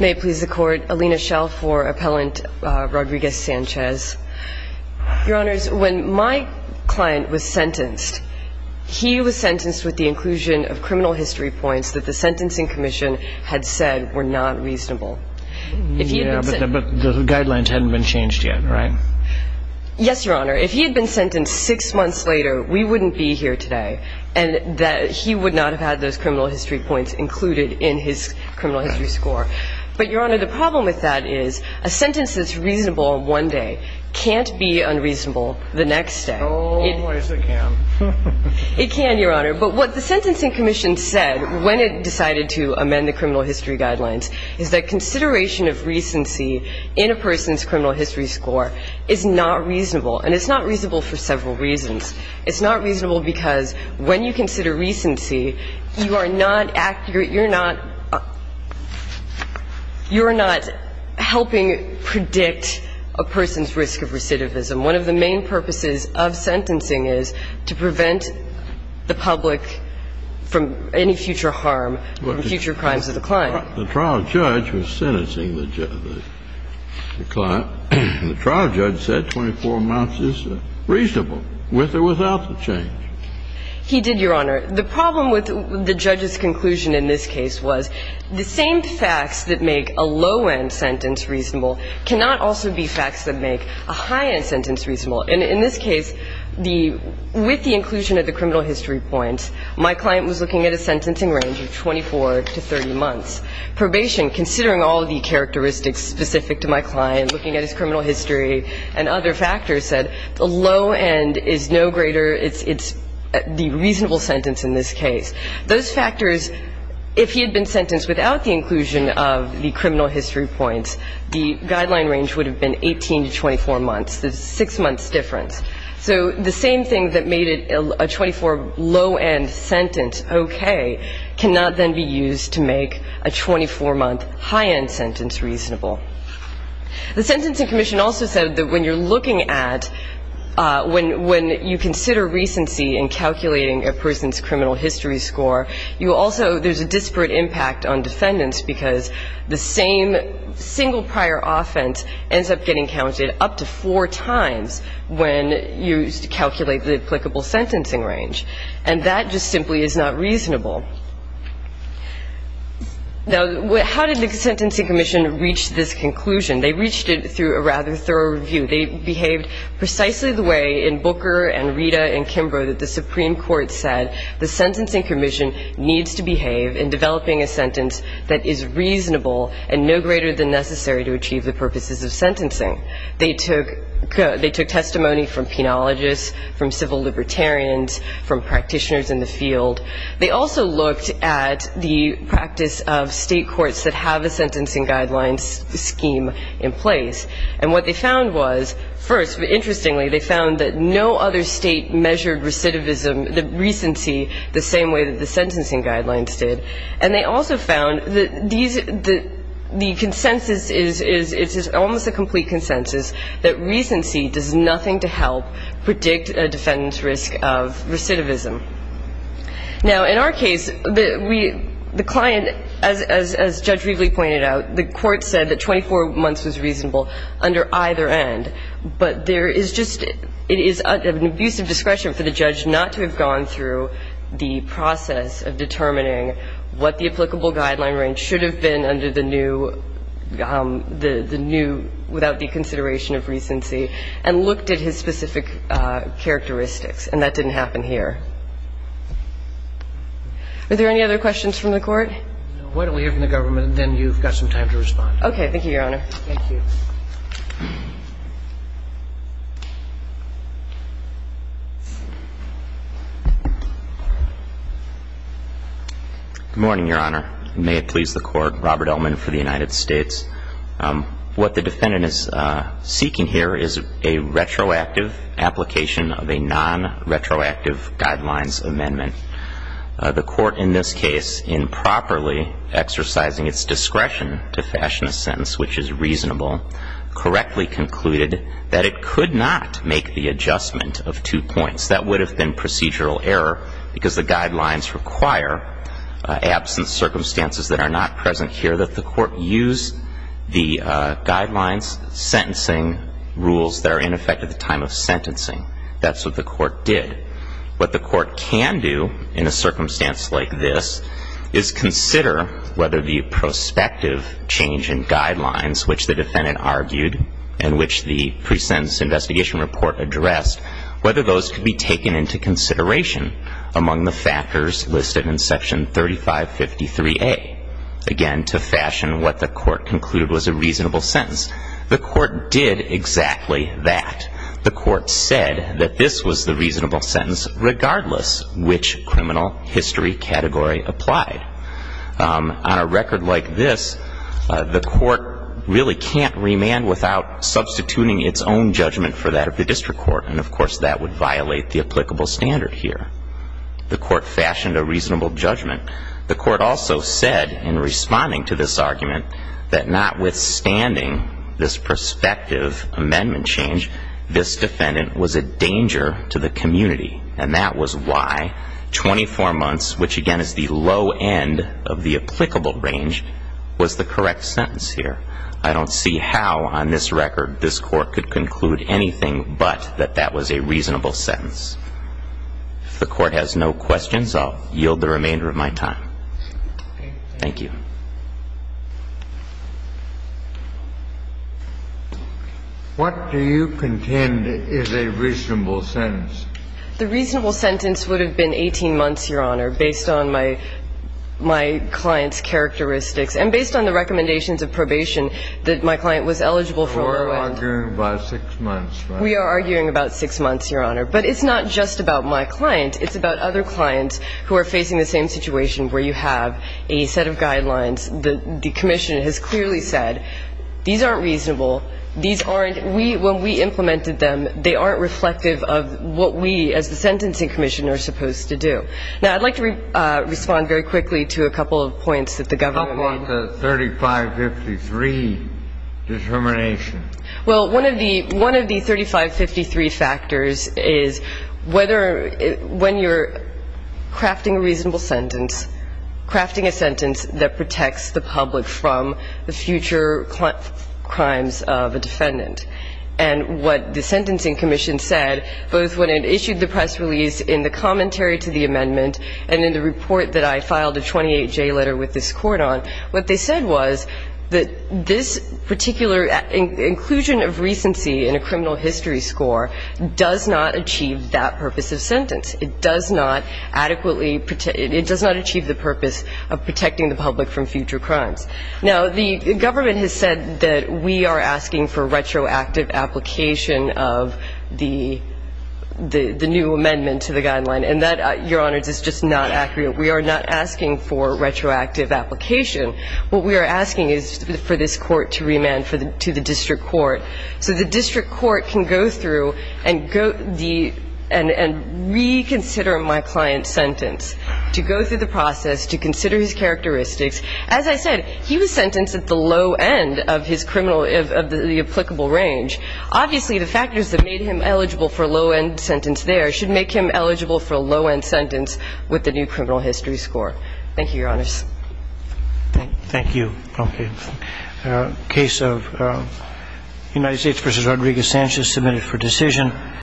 May it please the Court, Alina Schell for Appellant Rodriguez-Sanchez. Your Honors, when my client was sentenced, he was sentenced with the inclusion of criminal history points that the Sentencing Commission had said were not reasonable. But the guidelines hadn't been changed yet, right? Yes, Your Honor. If he had been sentenced six months later, we wouldn't be here today. And that he would not have had those criminal history points included in his criminal history score. But, Your Honor, the problem with that is a sentence that's reasonable one day can't be unreasonable the next day. Oh, yes, it can. It can, Your Honor. But what the Sentencing Commission said when it decided to amend the criminal history guidelines is that consideration of recency in a person's criminal history score is not reasonable. And it's not reasonable for several reasons. It's not reasonable because when you consider recency, you are not accurate. You're not helping predict a person's risk of recidivism. One of the main purposes of sentencing is to prevent the public from any future harm, from future crimes of the client. The trial judge was sentencing the client, and the trial judge said 24 months is reasonable, with or without the change. He did, Your Honor. The problem with the judge's conclusion in this case was the same facts that make a low-end sentence reasonable cannot also be facts that make a high-end sentence reasonable. And in this case, with the inclusion of the criminal history points, my client was looking at a sentencing range of 24 to 30 months. Probation, considering all of the characteristics specific to my client, looking at his criminal history and other factors, said the low end is no greater. It's the reasonable sentence in this case. Those factors, if he had been sentenced without the inclusion of the criminal history points, the guideline range would have been 18 to 24 months. There's a six-month difference. So the same thing that made a 24 low-end sentence okay cannot then be used to make a 24-month high-end sentence reasonable. The Sentencing Commission also said that when you're looking at, when you consider recency in calculating a person's criminal history score, you also, there's a disparate impact on defendants because the same single prior offense ends up getting counted up to four times when you calculate the applicable sentencing range. And that just simply is not reasonable. Now, how did the Sentencing Commission reach this conclusion? They reached it through a rather thorough review. They behaved precisely the way in Booker and Rita and Kimbrough that the Supreme Court said the Sentencing Commission needs to behave in developing a sentence that is reasonable and no greater than necessary to achieve the purposes of sentencing. They took testimony from penologists, from civil libertarians, from practitioners in the field. They also looked at the practice of state courts that have a sentencing guidelines scheme in place. And what they found was, first, interestingly, they found that no other state measured recidivism, the recency, the same way that the sentencing guidelines did. And they also found that these, the consensus is, it's almost a complete consensus that recency does nothing to help predict a defendant's risk of recidivism. Now, in our case, the client, as Judge Rieveley pointed out, the court said that 24 months was reasonable under either end. But there is just, it is an abusive discretion for the judge not to have gone through the process of determining what the applicable guideline range should have been under the new, the new, without the consideration of recency, and looked at his specific characteristics. And that didn't happen here. Are there any other questions from the Court? No. Why don't we hear from the government and then you've got some time to respond. Thank you, Your Honor. Thank you. Good morning, Your Honor. May it please the Court. Robert Ellman for the United States. What the defendant is seeking here is a retroactive application of a nonretroactive guidelines amendment. The Court in this case improperly exercising its discretion to fashion a sentence which is reasonable, correctly concluded that it could not make the adjustment of two points. That would have been procedural error because the guidelines require, absent circumstances that are not present here, that the Court use the guidelines, sentencing rules that are in effect at the time of sentencing. That's what the Court did. What the Court can do in a circumstance like this is consider whether the prospective change in guidelines which the defendant argued and which the pre-sentence investigation report addressed, whether those could be taken into consideration among the factors listed in Section 3553A. Again, to fashion what the Court concluded was a reasonable sentence. The Court did exactly that. The Court said that this was the reasonable sentence regardless which criminal history category applied. On a record like this, the Court really can't remand without substituting its own judgment for that of the district court. And, of course, that would violate the applicable standard here. The Court fashioned a reasonable judgment. The Court also said in responding to this argument that notwithstanding this prospective amendment change, this defendant was a danger to the community. And that was why 24 months, which, again, is the low end of the applicable range, was the correct sentence here. I don't see how on this record this Court could conclude anything but that that was a reasonable sentence. If the Court has no questions, I'll yield the remainder of my time. Thank you. What do you contend is a reasonable sentence? The reasonable sentence would have been 18 months, Your Honor, based on my client's characteristics and based on the recommendations of probation that my client was eligible for. We're arguing about 6 months, right? We are arguing about 6 months, Your Honor. But it's not just about my client. It's about other clients who are facing the same situation where you have a set of guidelines. The commission has clearly said these aren't reasonable. These aren't we when we implemented them. They aren't reflective of what we as the Sentencing Commission are supposed to do. Now, I'd like to respond very quickly to a couple of points that the government made. How about the 3553 determination? Well, one of the 3553 factors is whether when you're crafting a reasonable sentence, crafting a sentence that protects the public from the future crimes of a defendant. And what the Sentencing Commission said, both when it issued the press release in the commentary to the amendment and in the report that I filed a 28-J letter with this court on, what they said was that this particular inclusion of recency in a criminal history score does not achieve that purpose of sentence. It does not adequately – it does not achieve the purpose of protecting the public from future crimes. Now, the government has said that we are asking for retroactive application of the new amendment to the guideline. And that, Your Honor, is just not accurate. We are not asking for retroactive application. What we are asking is for this court to remand to the district court, so the district court can go through and reconsider my client's sentence, to go through the process, to consider his characteristics. As I said, he was sentenced at the low end of his criminal – of the applicable range. Obviously, the factors that made him eligible for a low-end sentence there should make him eligible for a low-end sentence with the new criminal history score. Thank you, Your Honors. Thank you. Okay. Case of United States v. Rodriguez-Sanchez submitted for decision.